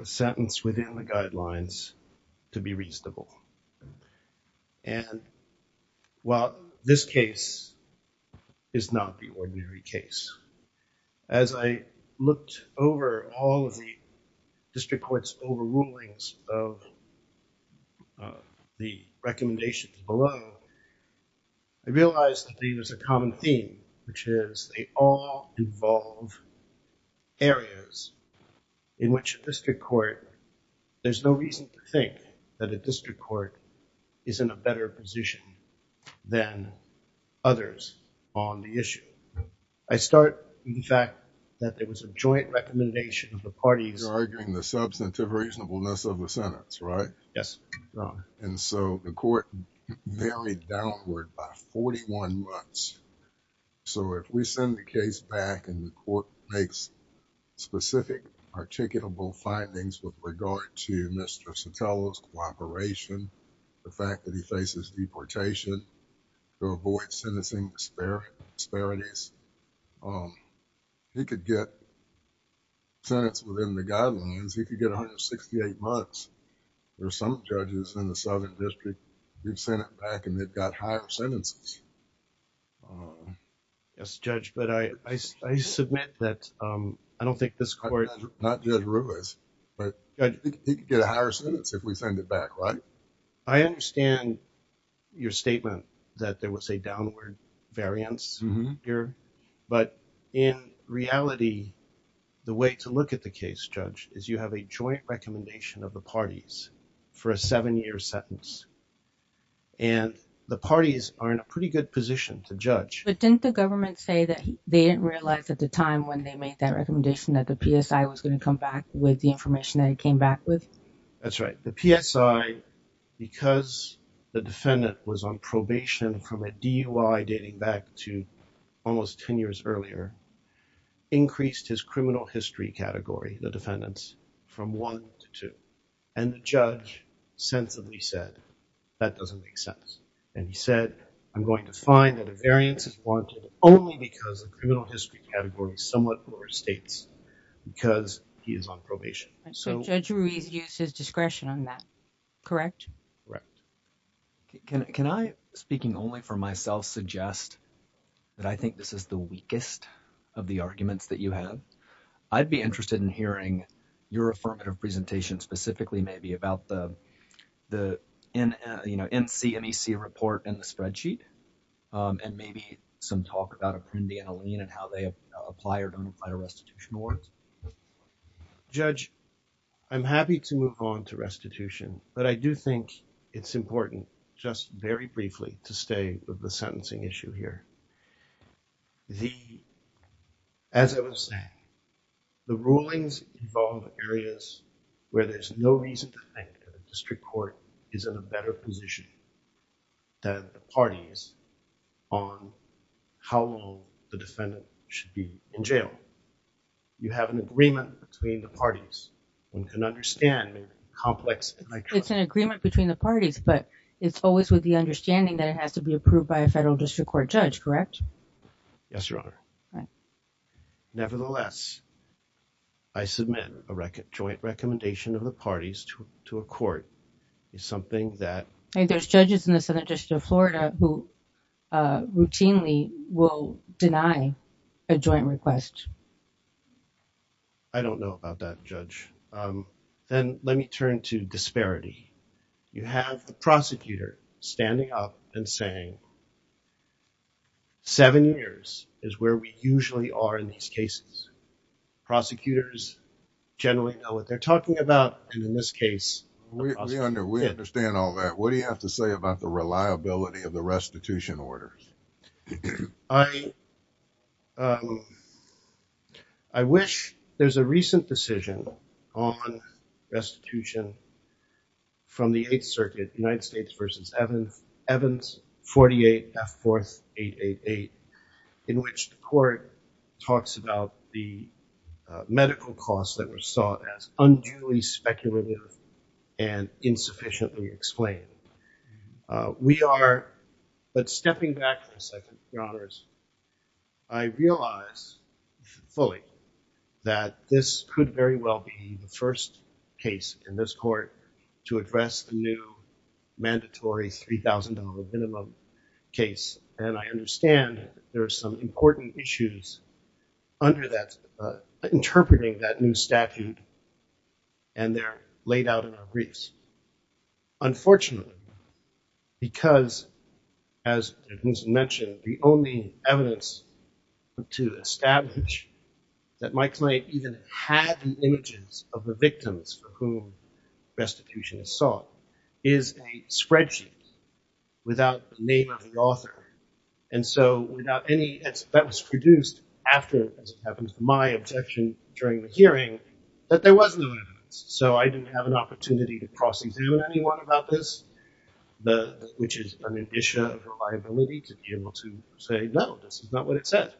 a sentence within the guidelines to be reasonable. And while this case is not the ordinary case, as I looked over all of the district court's overrulings of the recommendations below, I realized that there's a common theme, which is they all involve areas in which a district court, there's no reason to think that a district court is in a better position than others on the issue. I start with the fact that there was a joint recommendation of the parties. You're arguing the substantive reasonableness of the sentence, right? Yes. And so the court varied downward by 41 months. So if we send the case back and the court makes specific articulable findings with regard to Mr. Sotelo's cooperation, the fact that he faces deportation to avoid sentencing disparities, he could get a higher sentence within the guidelines. He could get 168 months. There are some judges in the Southern District who've sent it back and they've got higher sentences. Yes, Judge, but I submit that I don't think this court... Not Judge Ruiz, but he could get a higher sentence if we send it back, right? I understand your statement that there was a downward variance here, but in reality, the way to look at the case, Judge, is you have a joint recommendation of the parties for a seven-year sentence. And the parties are in a pretty good position to judge. But didn't the government say that they didn't realize at the time when they made that recommendation that the PSI was going to come back with the information that it came back with? That's right. The PSI, because the defendant was on probation from a DUI dating back to almost ten years earlier, increased his criminal history category, the defendant's, from one to two. And the judge sensibly said, that doesn't make sense. And he said, I'm going to find that a variance is wanted only because the criminal history category somewhat overstates because he is on probation. So Judge Ruiz used his discretion on that, correct? Correct. Can I, speaking only for myself, suggest that I think this is the weakest of the arguments that you have? I'd be interested in hearing your affirmative presentation specifically maybe about the NCMEC report and the spreadsheet, and maybe some talk about Appendi and Alene and how they apply or don't apply to restitution awards. Judge, I'm happy to move on to restitution, but I do think it's important just very briefly to stay with the sentencing issue here. As I was saying, the rulings involve areas where there's no reason to think that a district court is in a better position than the parties on how long the defendant should be in jail. You have an agreement between the parties and can understand the complex. It's an agreement between the parties, but it's always with the understanding that it has to be approved by a federal district court judge, correct? Yes, Your Honor. Nevertheless, I submit a joint recommendation of the parties to a court is something that... There's judges in the Southern Deny a joint request. I don't know about that, Judge. Then let me turn to disparity. You have the prosecutor standing up and saying, seven years is where we usually are in these cases. Prosecutors generally know what they're talking about, and in this case... We understand all that. What do you have to say about the disparity? I wish... There's a recent decision on restitution from the Eighth Circuit, United States v. Evans, 48 F. 4th 888, in which the court talks about the medical costs that were sought as unduly speculative and insufficiently explained. We are... But I realize fully that this could very well be the first case in this court to address the new mandatory $3,000 minimum case, and I understand there are some important issues under that, interpreting that new statute, and they're laid out in our briefs. Unfortunately, because as was mentioned, the only evidence to establish that my client even had the images of the victims for whom restitution is sought is a spreadsheet without the name of the author, and so without any... That was produced after, as it happens, my objection during the hearing that there was no evidence, so I didn't have an opportunity to cross examine anyone about this, which is an addition of reliability to be able to say, no, this is not what it says.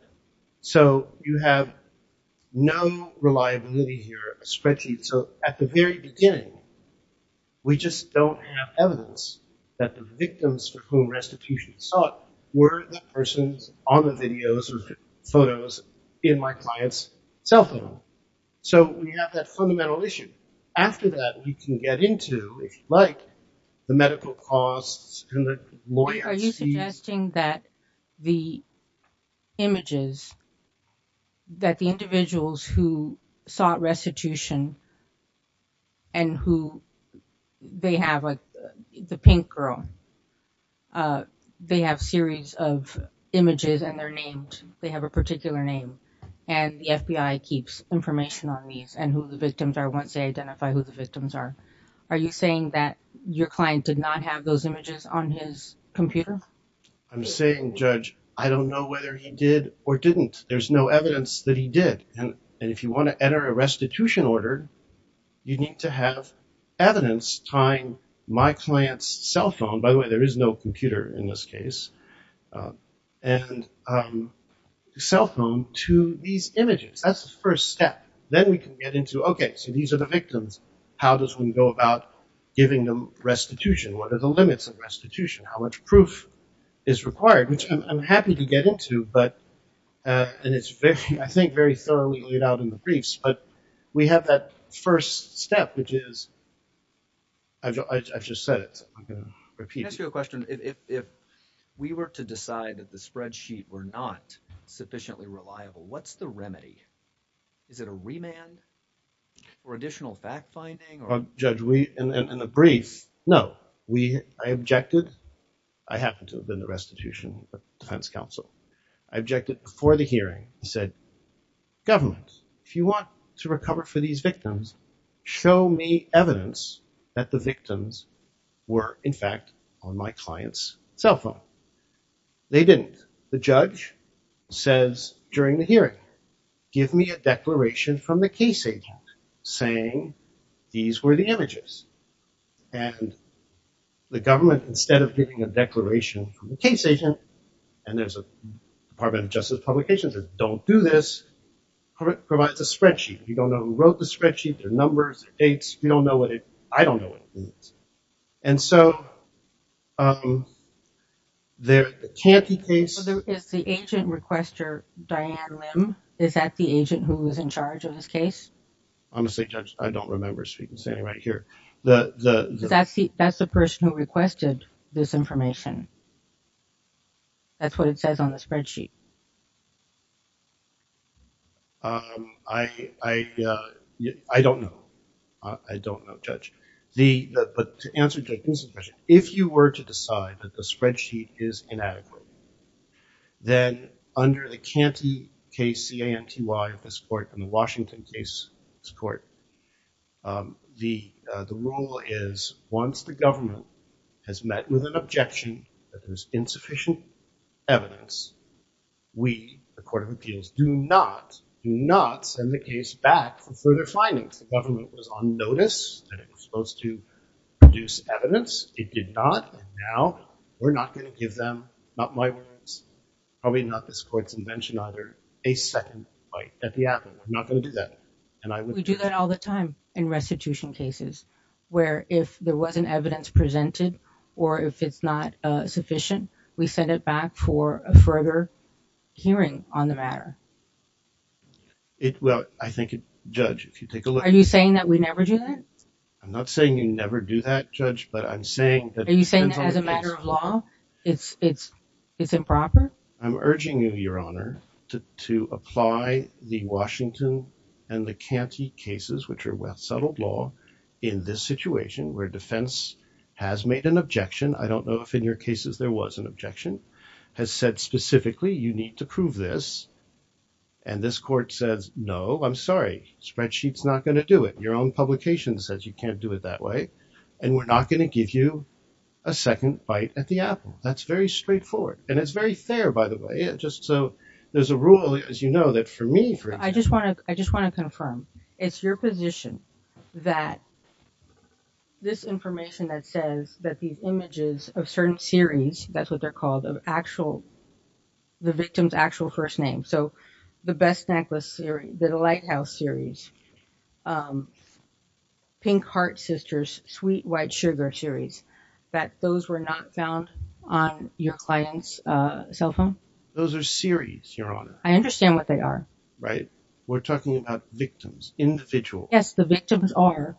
So you have no reliability here, a spreadsheet. So at the very beginning, we just don't have evidence that the victims for whom restitution is sought were the persons on the videos or photos in my client's cell phone. So we have that fundamental issue. After that, we can get into, if you like, the medical costs and the lawyers. Are you suggesting that the images, that the individuals who sought restitution and who they have the pink girl, they have series of images and they're named, they have a particular name, and the FBI keeps information on these and who the victims are as they identify who the victims are. Are you saying that your client did not have those images on his computer? I'm saying, Judge, I don't know whether he did or didn't. There's no evidence that he did. And if you want to enter a restitution order, you need to have evidence tying my client's cell phone, by the way, there is no computer in this case, and cell phone to these images. That's the first step. Then we can get into, okay, so these are the victims. How does one go about giving them restitution? What are the limits of restitution? How much proof is required? Which I'm happy to get into, but, and it's very, I think, very thoroughly laid out in the briefs, but we have that first step, which is, I've just said it, so I'm going to repeat it. Can I ask you a question? If we were to decide that the spreadsheet were not sufficiently reliable, what's the remedy? Is it a remand or additional fact-finding or? Judge, in the brief, no. I objected. I happen to have been the restitution defense counsel. I objected before the hearing. I said, government, if you want to recover for these victims, show me evidence that the victims were, in fact, on my client's cell phone. They didn't. The judge says during the hearing, give me a declaration from the case agent saying these were the images, and the government, instead of giving a declaration from the case agent, and there's a Department of Justice publication that says don't do this, provides a spreadsheet. You don't know who wrote the spreadsheet. There are numbers, dates. You don't know what it, and so, can't the case? Is the agent requester, Diane Lim, is that the agent who was in charge of this case? Honestly, Judge, I don't remember speaking, standing right here. That's the person who requested this information. That's what it says on the spreadsheet. I don't know. I don't know, Judge. But to answer Judge Nielsen's question, if you were to decide that the spreadsheet is inadequate, then under the Canty case, C-A-N-T-Y of this court and the Washington case, this court, the rule is once the government has met with an objection that there's insufficient evidence, we, the Court of Appeals, do not, do not send the case back for further findings. The government was on notice that it was supposed to produce evidence. It did not, and now we're not going to give them, not my words, probably not this court's invention either, a second bite at the apple. We're not going to do that, and I would. We do that all the time in restitution cases, where if there wasn't evidence presented or if it's not sufficient, we send it back for a further hearing on the matter. Well, I think, Judge, if you take a look. Are you saying that we never do that? I'm not saying you never do that, Judge, but I'm saying that it depends on the case. Are you saying that as a matter of law, it's improper? I'm urging you, Your Honor, to apply the Washington and the Canty cases, which are with settled law, in this situation where defense has made an objection, I don't know if in your cases there was an objection, has said specifically, you need to prove this, and this court says, no, I'm sorry, spreadsheet's not going to do it. Your own publication says you can't do it that way, and we're not going to give you a second bite at the apple. That's very straightforward, and it's very fair, by the way, just so there's a rule, as you know, that for me, for example. I just want to confirm, it's your position that this information that says that these images of certain series, that's what they're called, of actual, the victim's actual first name, so the Best Necklace series, the Lighthouse series, Pink Heart Sisters, Sweet White Sugar series, that those were not found on your client's cell phone? Those are series, Your Honor. I understand what they are. Right? We're talking about victims, individuals. Yes, the victims are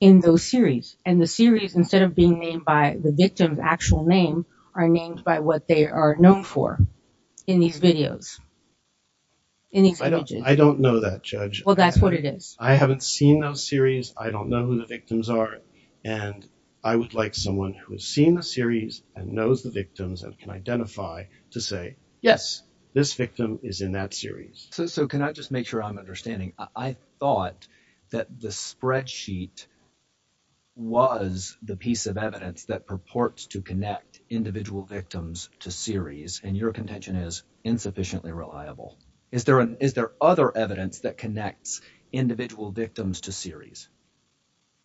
in those series, and the series, instead of being named by the victim's actual name, are named by what they are known for in these videos, in these images. I don't know that, Judge. Well, that's what it is. I haven't seen those series. I don't know who the victims are, and I would like someone who has seen the series and knows the victims and can identify to say, yes, this victim is in that series. So can I just make sure I'm understanding? I thought that the spreadsheet was the piece of evidence that purports to connect individual victims to series, and your contention is individual victims to series.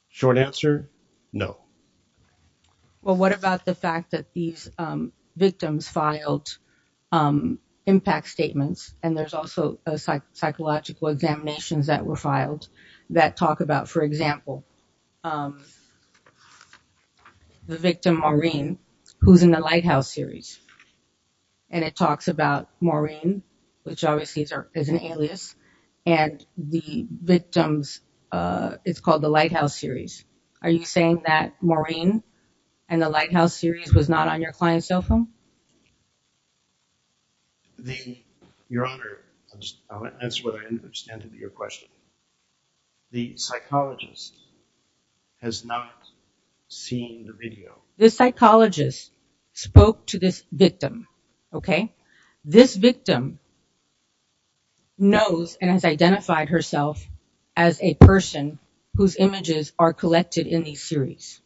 Short answer, no. Well, what about the fact that these victims filed impact statements, and there's also psychological examinations that were filed that talk about, for example, the victim Maureen, who's in the Lighthouse series, and it talks about Maureen, which obviously is an alias, and the victims, it's called the Lighthouse series. Are you saying that Maureen and the Lighthouse series was not on your client's cell phone? Your Honor, I'll answer what I understand to be your question. The psychologist has not seen the video. The psychologist spoke to this victim, okay? This victim knows and has identified herself as a person whose images are collected in these series,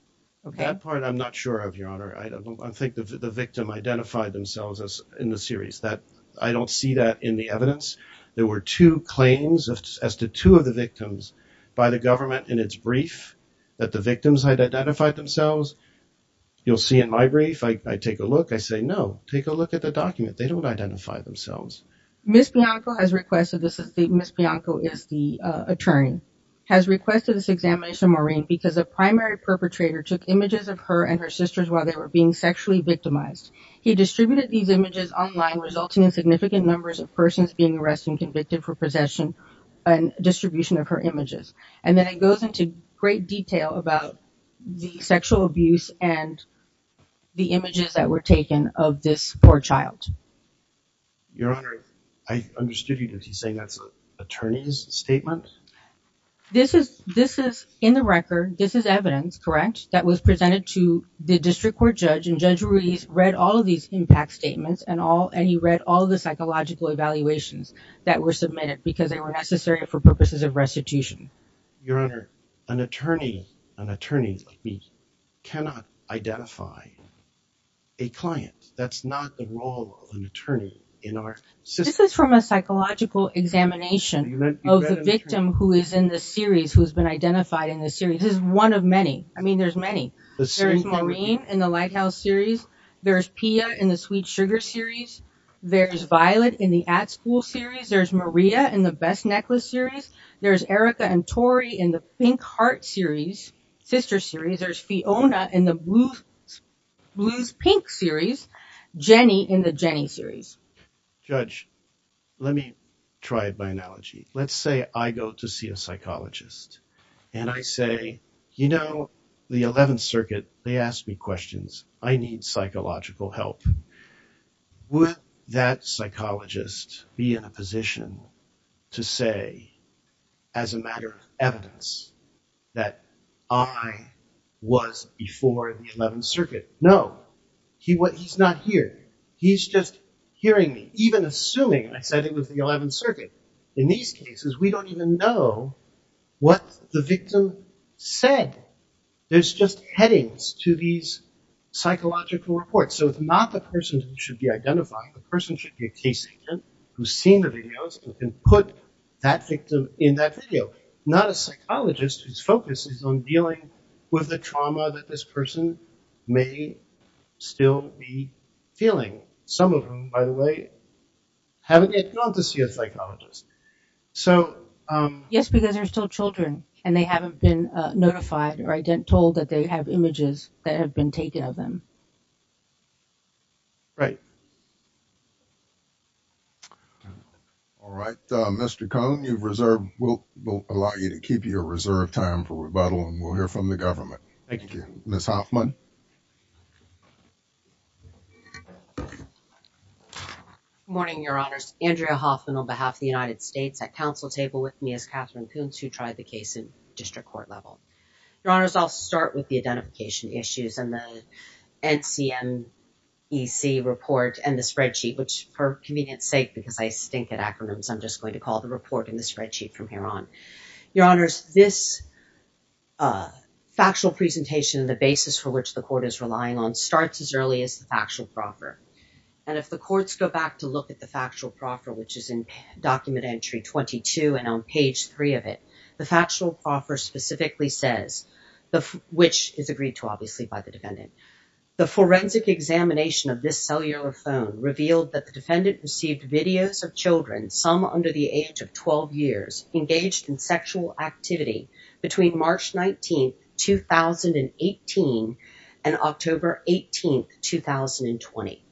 okay? That part I'm not sure of, Your Honor. I don't think the victim identified themselves as in the series. I don't see that in the evidence. There were two claims as to two of the victims by the government in its brief that the victims had identified themselves. You'll see in my brief, I take a look, I say, no, take a look at the document. They don't identify themselves. Ms. Bianco has requested, Ms. Bianco is the attorney, has requested this examination of Maureen because a primary perpetrator took images of her and her sisters while they were being sexually victimized. He distributed these images online, resulting in significant numbers of great detail about the sexual abuse and the images that were taken of this poor child. Your Honor, I understood you to be saying that's an attorney's statement? This is in the record, this is evidence, correct, that was presented to the district court judge and Judge Ruiz read all of these impact statements and he read all the psychological evaluations that were submitted because they were necessary for purposes of restitution. Your Honor, an attorney, an attorney cannot identify a client. That's not the role of an attorney in our system. This is from a psychological examination of the victim who is in the series, who has been identified in the series. This is one of many. I mean, there's many. There's Maureen in the Lighthouse series. There's Pia in the Sweet Sugar series. There's Violet in the At School series. There's Maria in the Best Necklace series. There's Erica and Tori in the Pink Heart series, sister series. There's Fiona in the Blues Pink series. Jenny in the Jenny series. Judge, let me try it by analogy. Let's say I go to see a psychologist and I say, you know, the 11th Circuit, they asked me questions. I need psychological help. Would that psychologist be in a position to say as a matter of evidence that I was before the 11th Circuit? No. He's not here. He's just hearing me, even assuming I said it was the 11th Circuit. In these cases, we don't even know what the victim said. There's just headings to these cases. The person who should be identifying, the person should be a case agent who's seen the videos and can put that victim in that video, not a psychologist whose focus is on dealing with the trauma that this person may still be feeling. Some of them, by the way, haven't yet gone to see a psychologist. Yes, because they're still children and they haven't been notified or told that they have images that have been taken of them. Right. All right, Mr. Cohn, we'll allow you to keep your reserve time for rebuttal and we'll hear from the government. Thank you. Ms. Hoffman. Good morning, Your Honors. Andrea Hoffman on behalf of the United States at council table with me as Catherine Coons, who tried the case in spreadsheet, which for convenience sake, because I stink at acronyms, I'm just going to call the report in the spreadsheet from here on. Your Honors, this factual presentation and the basis for which the court is relying on starts as early as the factual proffer. And if the courts go back to look at the factual proffer, which is in document entry 22 and on page three of it, the factual offer specifically says, which is agreed to obviously by the defendant, the forensic examination of this cellular phone revealed that the defendant received videos of children, some under the age of 12 years engaged in sexual activity between March 19th, 2018, and October 18th, 2020.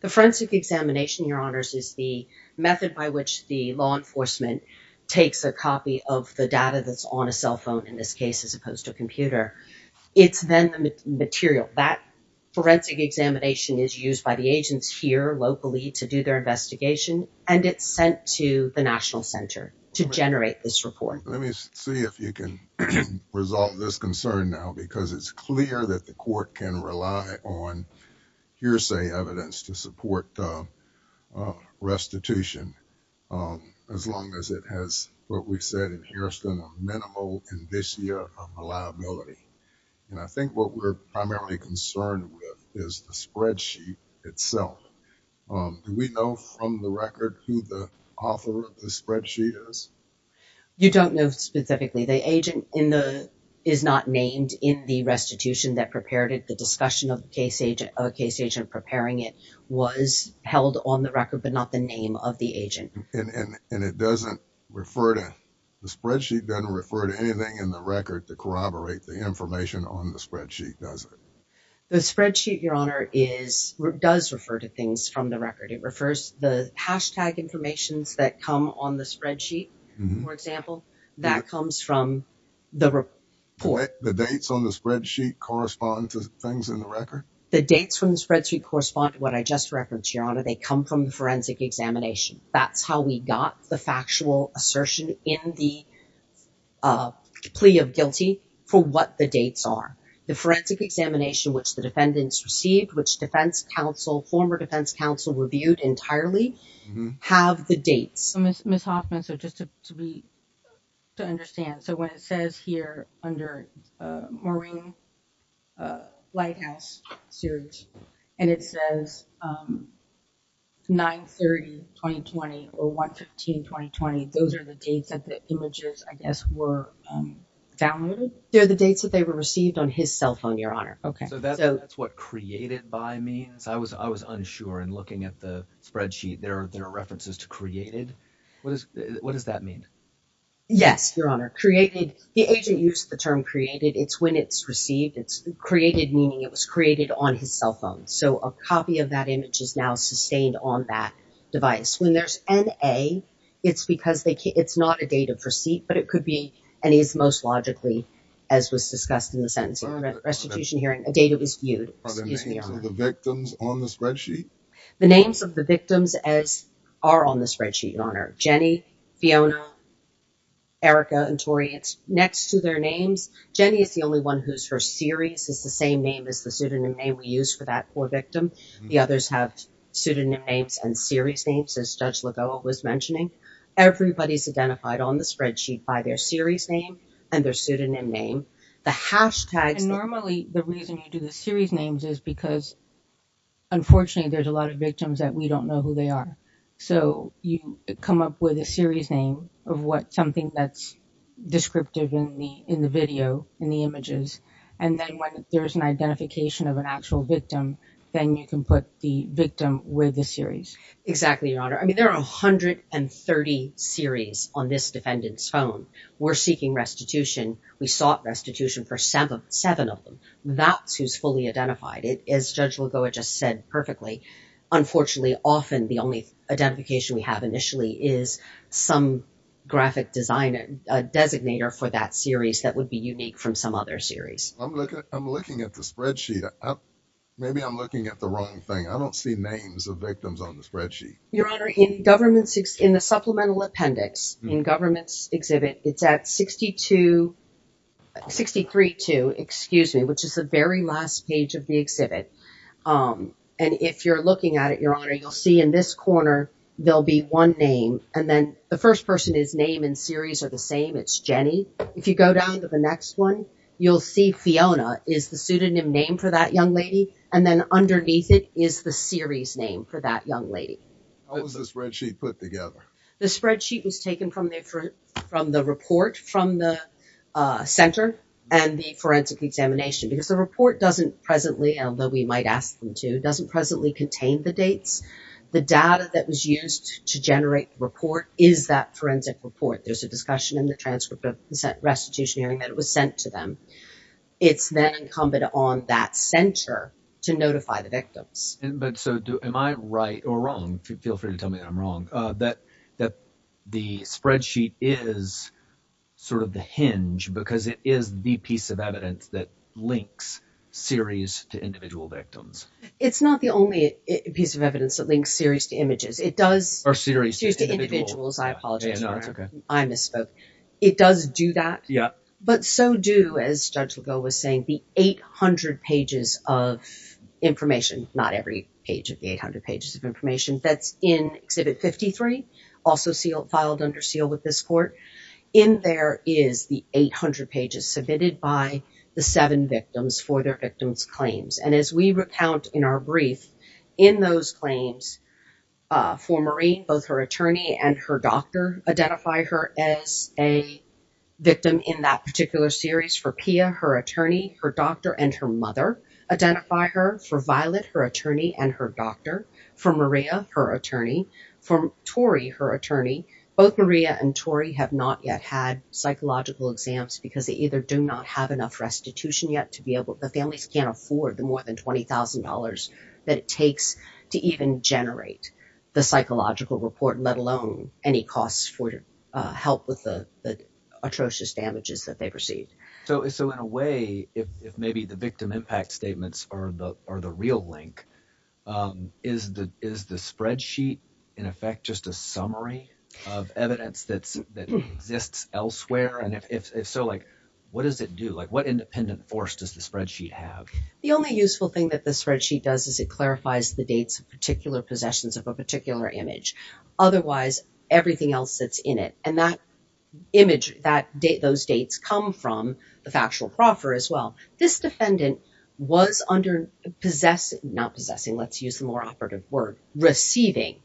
The forensic examination, Your Honors, is the method by which the law enforcement takes a copy of the data that's on a cell phone in this case, as opposed to a computer. It's then the material that forensic examination is used by the agents here locally to do their investigation. And it's sent to the national center to generate this report. Let me see if you can resolve this concern now, because it's clear that the court can rely on hearsay evidence to I think what we're primarily concerned with is the spreadsheet itself. Do we know from the record who the author of the spreadsheet is? You don't know specifically. The agent is not named in the restitution that prepared it. The discussion of the case agent preparing it was held on the record, but not the name of the agent. And the spreadsheet doesn't refer to anything in the record to on the spreadsheet, does it? The spreadsheet, Your Honor, does refer to things from the record. It refers the hashtag informations that come on the spreadsheet. For example, that comes from the report. The dates on the spreadsheet correspond to things in the record? The dates from the spreadsheet correspond to what I just referenced, Your Honor. They come from the forensic examination. That's how we got the factual assertion in the for what the dates are. The forensic examination, which the defendants received, which defense counsel, former defense counsel reviewed entirely, have the dates. So, Ms. Hoffman, so just to be to understand, so when it says here under Maureen Lighthouse series, and it says 9-30-2020 or 1-15-2020, those are the dates that the images, I guess, were downloaded? They're the dates that they were received on his cell phone, Your Honor. Okay. So that's what created by means. I was unsure and looking at the spreadsheet, there are references to created. What does that mean? Yes, Your Honor. Created, the agent used the term created. It's when it's received. It's created meaning it was created on his cell phone. So a copy of that image is now sustained on that but it could be, and it's most logically, as was discussed in the sentencing and restitution hearing, a date it was viewed. Are the names of the victims on the spreadsheet? The names of the victims are on the spreadsheet, Your Honor. Jenny, Fiona, Erica, and Tori, it's next to their names. Jenny is the only one whose her series is the same name as the pseudonym name we use for that poor victim. The others have pseudonym names and series names, as Judge by their series name and their pseudonym name. The hashtags- Normally, the reason you do the series names is because unfortunately, there's a lot of victims that we don't know who they are. So you come up with a series name of what something that's descriptive in the video, in the images. And then when there's an identification of an actual victim, then you can put the victim with the series. Exactly, Your Honor. I mean, there are 130 series on this defendant's phone. We're seeking restitution. We sought restitution for seven of them. That's who's fully identified. As Judge Lagoa just said perfectly, unfortunately, often, the only identification we have initially is some graphic design, a designator for that series that would be unique from some other series. I'm looking at the spreadsheet. Maybe I'm looking at the wrong thing. I don't see names of victims on the spreadsheet. Your Honor, in the supplemental appendix in government's exhibit, it's at 63-2, excuse me, which is the very last page of the exhibit. And if you're looking at it, Your Honor, you'll see in this corner, there'll be one name. And then the first person is name and series are the same. It's Jenny. If you go down to the next one, you'll see Fiona is the pseudonym name for that young lady. And then underneath it is the series name for that young lady. How was the spreadsheet put together? The spreadsheet was taken from the report from the center and the forensic examination because the report doesn't presently, although we might ask them to, doesn't presently contain the dates. The data that was used to generate the report is that forensic report. There's a discussion in the transcript of restitution hearing that it was sent to them. It's then incumbent on that center to notify the victims. But so do, am I right or wrong? Feel free to tell me that I'm wrong. That the spreadsheet is sort of the hinge because it is the piece of evidence that links series to individual victims. It's not the only piece of evidence that links series to images. It does... Or series to individuals. I apologize, Your Honor. I misspoke. It does do that. But so do, as Judge Legault was saying, the 800 pages of information, not every page of the 800 pages of information that's in Exhibit 53, also filed under seal with this court. In there is the 800 pages submitted by the seven victims for their victims' claims. And as we recount in our brief, in those claims for Maureen, both her attorney and her doctor identify her as a victim in that particular series. For Pia, her attorney, her doctor and her mother identify her. For Violet, her attorney and her doctor. For Maria, her attorney. For Tori, her attorney. Both Maria and Tori have not yet had psychological exams because they either do not have enough restitution yet to be able... The families can't afford the more than $20,000 that it takes to even generate the psychological report, let alone any costs for help with the atrocious damages that they've received. So in a way, if maybe the victim impact statements are the real link, is the spreadsheet in effect just a summary of evidence that exists elsewhere? And if so, what does it do? What independent force does the spreadsheet have? The only useful thing that the spreadsheet does is it clarifies the dates of particular possessions of a particular image. Otherwise, everything else that's in it and that image, those dates come from the factual proffer as well. This defendant was under possess... Not possessing, let's use the more operative word, receiving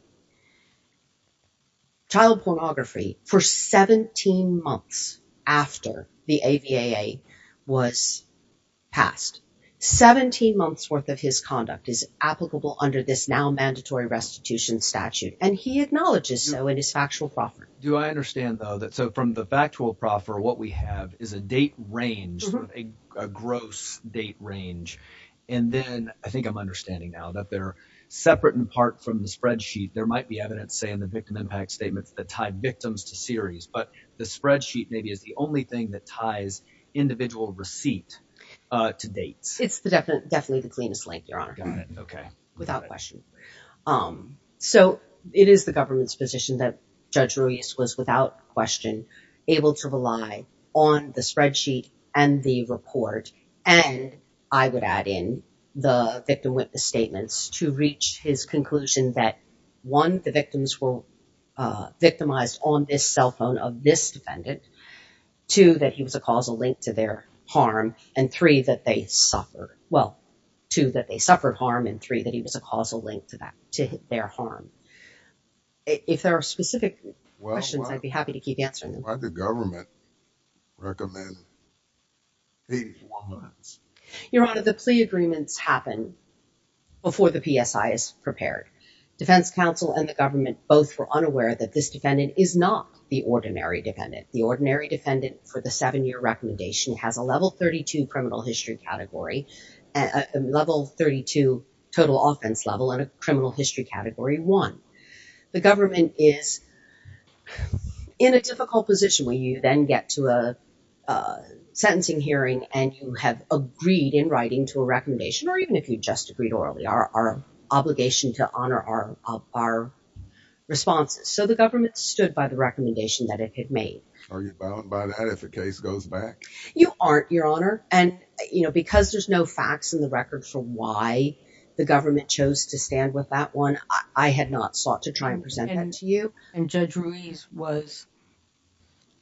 child pornography for 17 months after the AVAA was passed. 17 months worth of his conduct is under this now mandatory restitution statute. And he acknowledges so in his factual proffer. Do I understand though that so from the factual proffer, what we have is a date range, a gross date range. And then I think I'm understanding now that they're separate in part from the spreadsheet. There might be evidence say in the victim impact statements that tie victims to series, but the spreadsheet maybe is the only thing that ties individual receipt without question. So it is the government's position that judge Ruiz was without question able to rely on the spreadsheet and the report. And I would add in the victim witness statements to reach his conclusion that one, the victims were victimized on this cell phone of this defendant two, that he was a causal link to their harm and three, that they suffered. Well, two, that they suffered harm and three, that he was a causal link to that, to their harm. If there are specific questions, I'd be happy to keep answering them. Why did the government recommend these warrants? Your honor, the plea agreements happen before the PSI is prepared. Defense counsel and the defendant for the seven-year recommendation has a level 32 criminal history category, level 32 total offense level and a criminal history category one. The government is in a difficult position where you then get to a sentencing hearing and you have agreed in writing to a recommendation, or even if you just agreed orally, our obligation to honor our responses. So the government stood by the recommendation that it had made. Are you bound by that if the case goes back? You aren't, your honor. And because there's no facts in the record for why the government chose to stand with that one, I had not sought to try and present that to you. And judge Ruiz was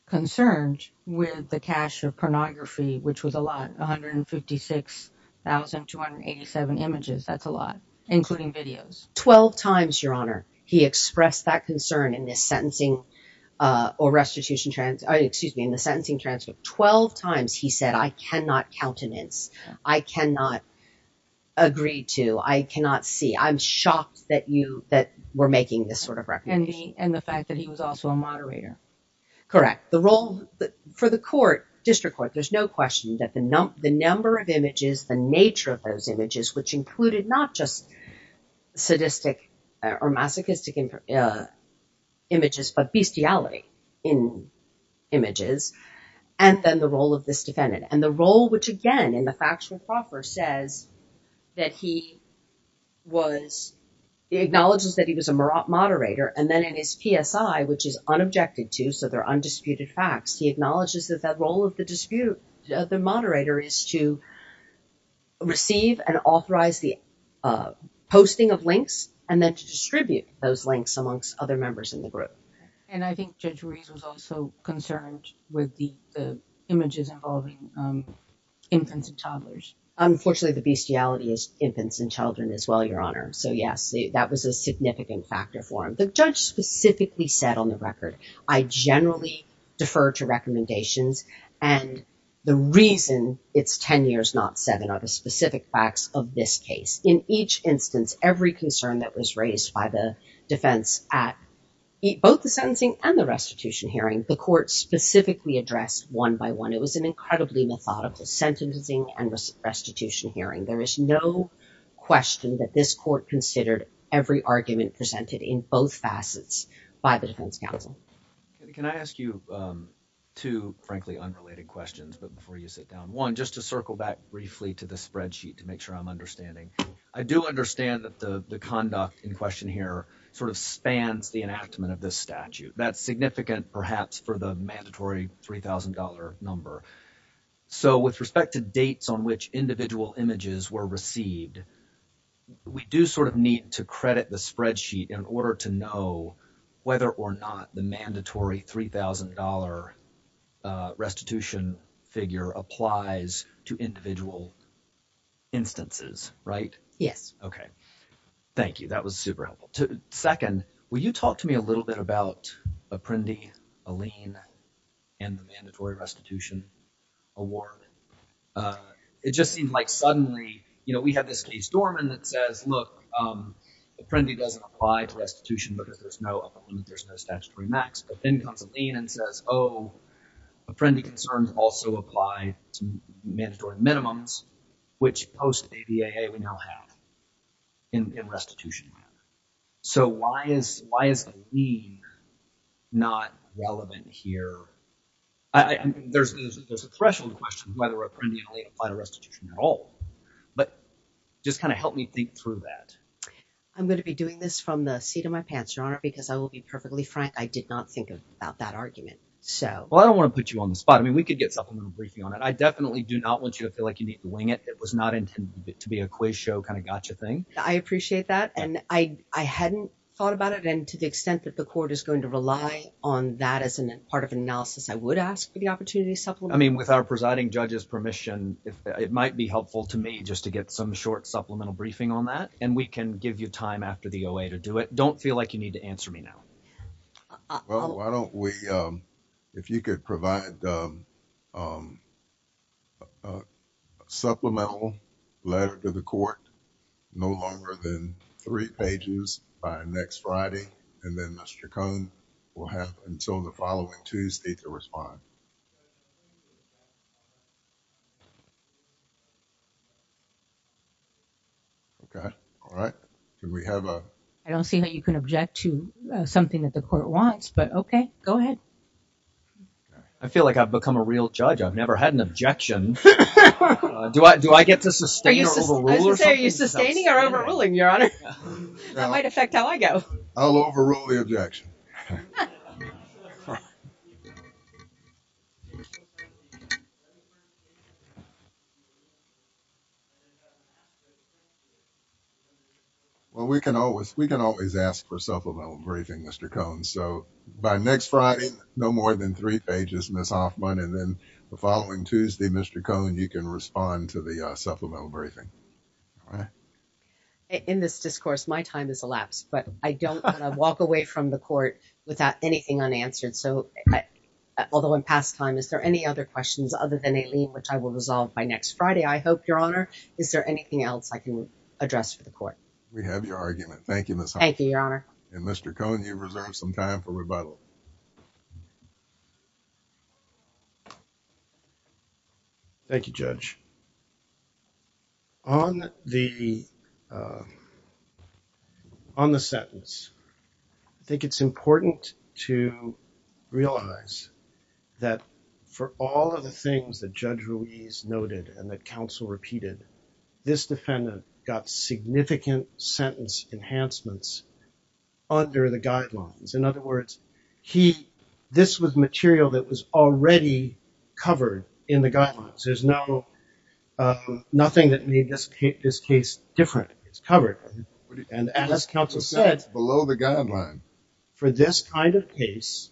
concerned with the cache of pornography, which was a lot, 156,287 images. That's a lot, including videos. 12 times, your honor, he expressed that concern in this sentencing or restitution trans, excuse me, in the sentencing transcript, 12 times he said, I cannot countenance. I cannot agree to, I cannot see. I'm shocked that you, that we're making this sort of recommendation. And the fact that he was also a moderator. Correct. The role for the court, district court, there's no question that the number of images, the nature of those images, which included not just sadistic or masochistic images, but bestiality in images. And then the role of this defendant and the role, which again, in the factual proffer says that he was, he acknowledges that he was a moderator. And then in his PSI, which is unobjected to, so they're undisputed facts. He acknowledges that role of the dispute, the moderator is to receive and authorize the posting of links and then to distribute those links amongst other members in the group. And I think Judge Ruiz was also concerned with the images involving infants and toddlers. Unfortunately, the bestiality is infants and children as well, your honor. So yes, that was a significant factor for him. The judge specifically said on the record, I generally defer to recommendations. And the reason it's 10 years, not seven, are the specific facts of this case. In each instance, every concern that was raised by the defense at both the sentencing and the restitution hearing, the court specifically addressed one by one. It was an incredibly methodical sentencing and restitution hearing. There is no question that this court considered every argument presented in both facets by the defense counsel. Can I ask you two, frankly, unrelated questions, but before you sit down one, just to circle back briefly to the spreadsheet to make sure I'm understanding. I do understand that the conduct in question here sort of spans the enactment of this statute. That's significant, perhaps for the mandatory $3,000 number. So with respect to dates on which individual images were received, we do sort of need to credit the spreadsheet in order to know whether or not the mandatory $3,000 restitution figure applies to individual instances, right? Yes. Okay. Thank you. That was super helpful. Second, will you talk to me a little bit about Apprendi, Alene, and the mandatory restitution award? It just seemed like suddenly, you know, we have this case, Dorman, that says, look, Apprendi doesn't apply to restitution because there's no upper limit, there's no statutory max. But then comes Alene and says, oh, Apprendi concerns also apply to mandatory minimums, which post-ADAA we now have in restitution. So why is Alene not relevant here? There's a threshold question whether Apprendi and Alene apply to restitution at all, but just kind of help me think through that. I'm going to be doing this from the seat of my pants, Your Honor, because I will be perfectly frank. I did not think about that argument. Well, I don't want to put you on the spot. I mean, we could get supplemental briefing on it. I definitely do not want you to feel like you need to wing it. It was not intended to be a quiz show kind of gotcha thing. I appreciate that. And I hadn't thought about it. And to the extent that the court is going to rely on that as part of an analysis, I would ask for the opportunity to supplement. I mean, with our presiding judge's permission, it might be helpful to me just to get some supplemental briefing on that, and we can give you time after the OA to do it. Don't feel like you need to answer me now. Well, why don't we, if you could provide a supplemental letter to the court, no longer than three pages by next Friday, and then Mr. Cohn will have until the following Okay. All right. Do we have a... I don't see how you can object to something that the court wants, but okay. Go ahead. I feel like I've become a real judge. I've never had an objection. Do I get to sustain or overrule or something? I was going to say, are you sustaining or overruling, Your Honor? That might affect how I go. I'll overrule the objection. Well, we can always ask for supplemental briefing, Mr. Cohn. So, by next Friday, no more than three pages, Ms. Hoffman, and then the following Tuesday, Mr. Cohn, you can respond to the supplemental briefing. All right. In this discourse, my time has elapsed, but I don't want to walk away from the court without anything unanswered. So, although in past time, is there any other questions other than Aileen, which I will resolve by next Friday, I hope, Your Honor? Is there anything else I can address for the court? We have your argument. Thank you, Ms. Hoffman. Thank you, Your Honor. And Mr. Cohn, you've reserved some time for rebuttal. Thank you, Judge. On the sentence, I think it's important to realize that for all of the things that Judge Ruiz noted and that counsel repeated, this defendant got significant sentence enhancements under the guidelines. In other words, this was material that was already covered in the guidelines. There's nothing that made this case different. It's covered. And as counsel said, for this kind of case,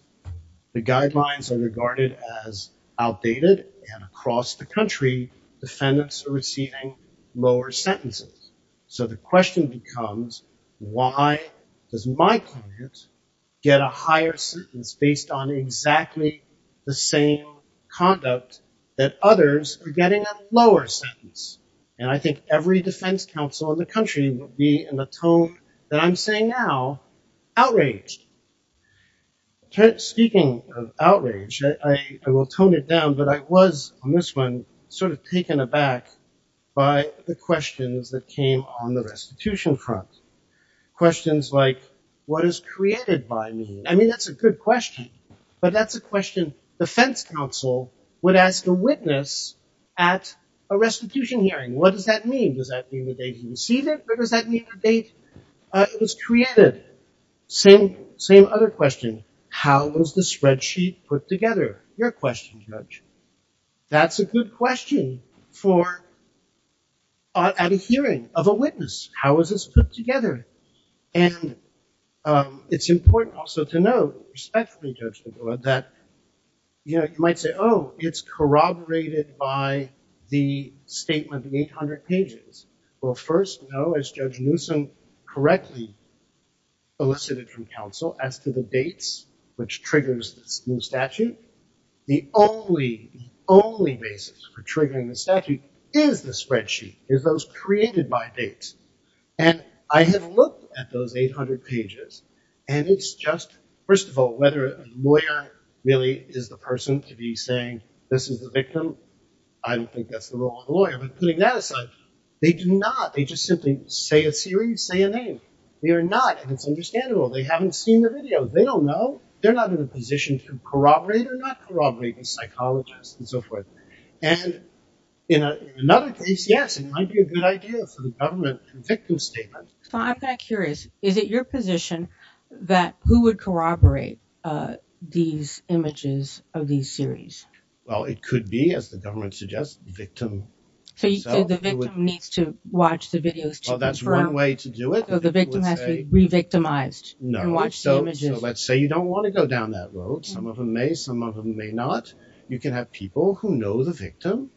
the guidelines are regarded as outdated, and across the country, defendants are receiving lower sentences. So the question becomes, why does my client get a higher sentence based on exactly the same conduct that others are getting a lower sentence? And I think every defense counsel in the country would be, in the tone that I'm saying now, outraged. Speaking of outrage, I will tone it down, but I was on this one sort of taken aback by the questions that came on the restitution front, questions like, what is created by me? I mean, that's a good question, but that's a question defense counsel would ask a witness at a restitution hearing. What does that mean? Does that mean the date he received it, or does that mean the date it was created? Same other question. How was the spreadsheet put together? Your question, Judge. That's a good question for at a hearing of a witness. How is this put together? And it's important also to note, respectfully, that, you know, you might say, oh, it's corroborated by the statement, the 800 pages. Well, first, no, as Judge Newsom correctly elicited from counsel as to the dates which triggers this new statute, the only basis for triggering the statute is the spreadsheet, is those created by And I have looked at those 800 pages, and it's just, first of all, whether a lawyer really is the person to be saying, this is the victim, I don't think that's the role of a lawyer, but putting that aside, they do not. They just simply say a series, say a name. They are not, and it's understandable. They haven't seen the video. They don't know. They're not in a position to corroborate or not corroborate the psychologist and so forth. And in another case, yes, it might be a good idea for the government, a victim statement. So I'm kind of curious, is it your position that who would corroborate these images of these series? Well, it could be, as the government suggests, the victim. So the victim needs to watch the videos? Well, that's one way to do it. So the victim has to be re-victimized and watch the images? No, so let's say you don't want to go down that road. Some of them may, some of them may not. You can have people who know the psychologist,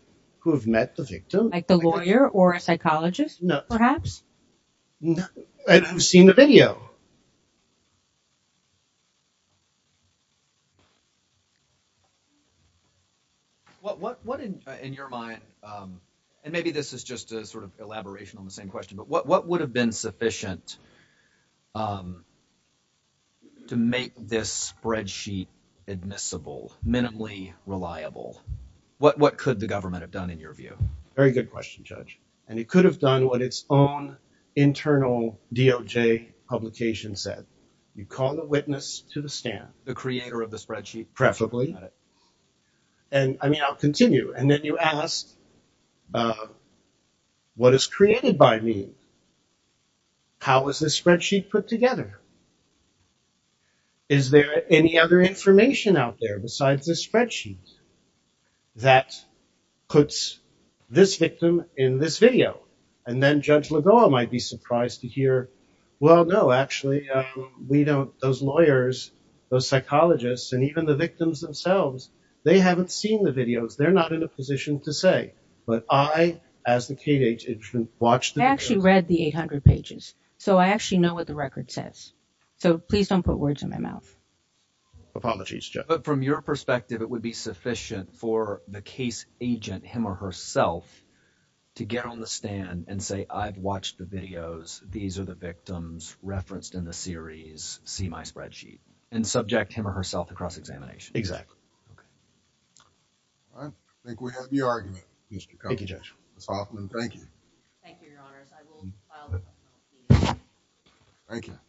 perhaps? I've seen the video. What in your mind, and maybe this is just a sort of elaboration on the same question, but what would have been sufficient to make this spreadsheet admissible, minimally reliable? What could the government have done in your view? Very good question, Judge. And it could have done what its own internal DOJ publication said. You call the witness to the stand. The creator of the spreadsheet? Preferably. And I mean, I'll continue. And then you asked, what is created by me? How is this spreadsheet put together? Is there any other information out there besides this spreadsheet that puts this victim in this video? And then Judge Lagoa might be surprised to hear, well, no, actually, we don't. Those lawyers, those psychologists, and even the victims themselves, they haven't seen the videos. They're not in a position to say, but I, as the KDH agent, watched the videos. I actually read the 800 pages. So I actually know what the record says. So please don't put words in my mouth. Apologies, Judge. But from your perspective, it would be sufficient for the case agent, him or herself, to get on the stand and say, I've watched the videos. These are the victims referenced in the series. See my spreadsheet. And subject him or herself to cross-examination. Exactly. All right. I think we have the argument, Mr. Cone. Thank you, Judge. That's all. Thank you. Thank you, Your Honors. I will file the petition. Thank you.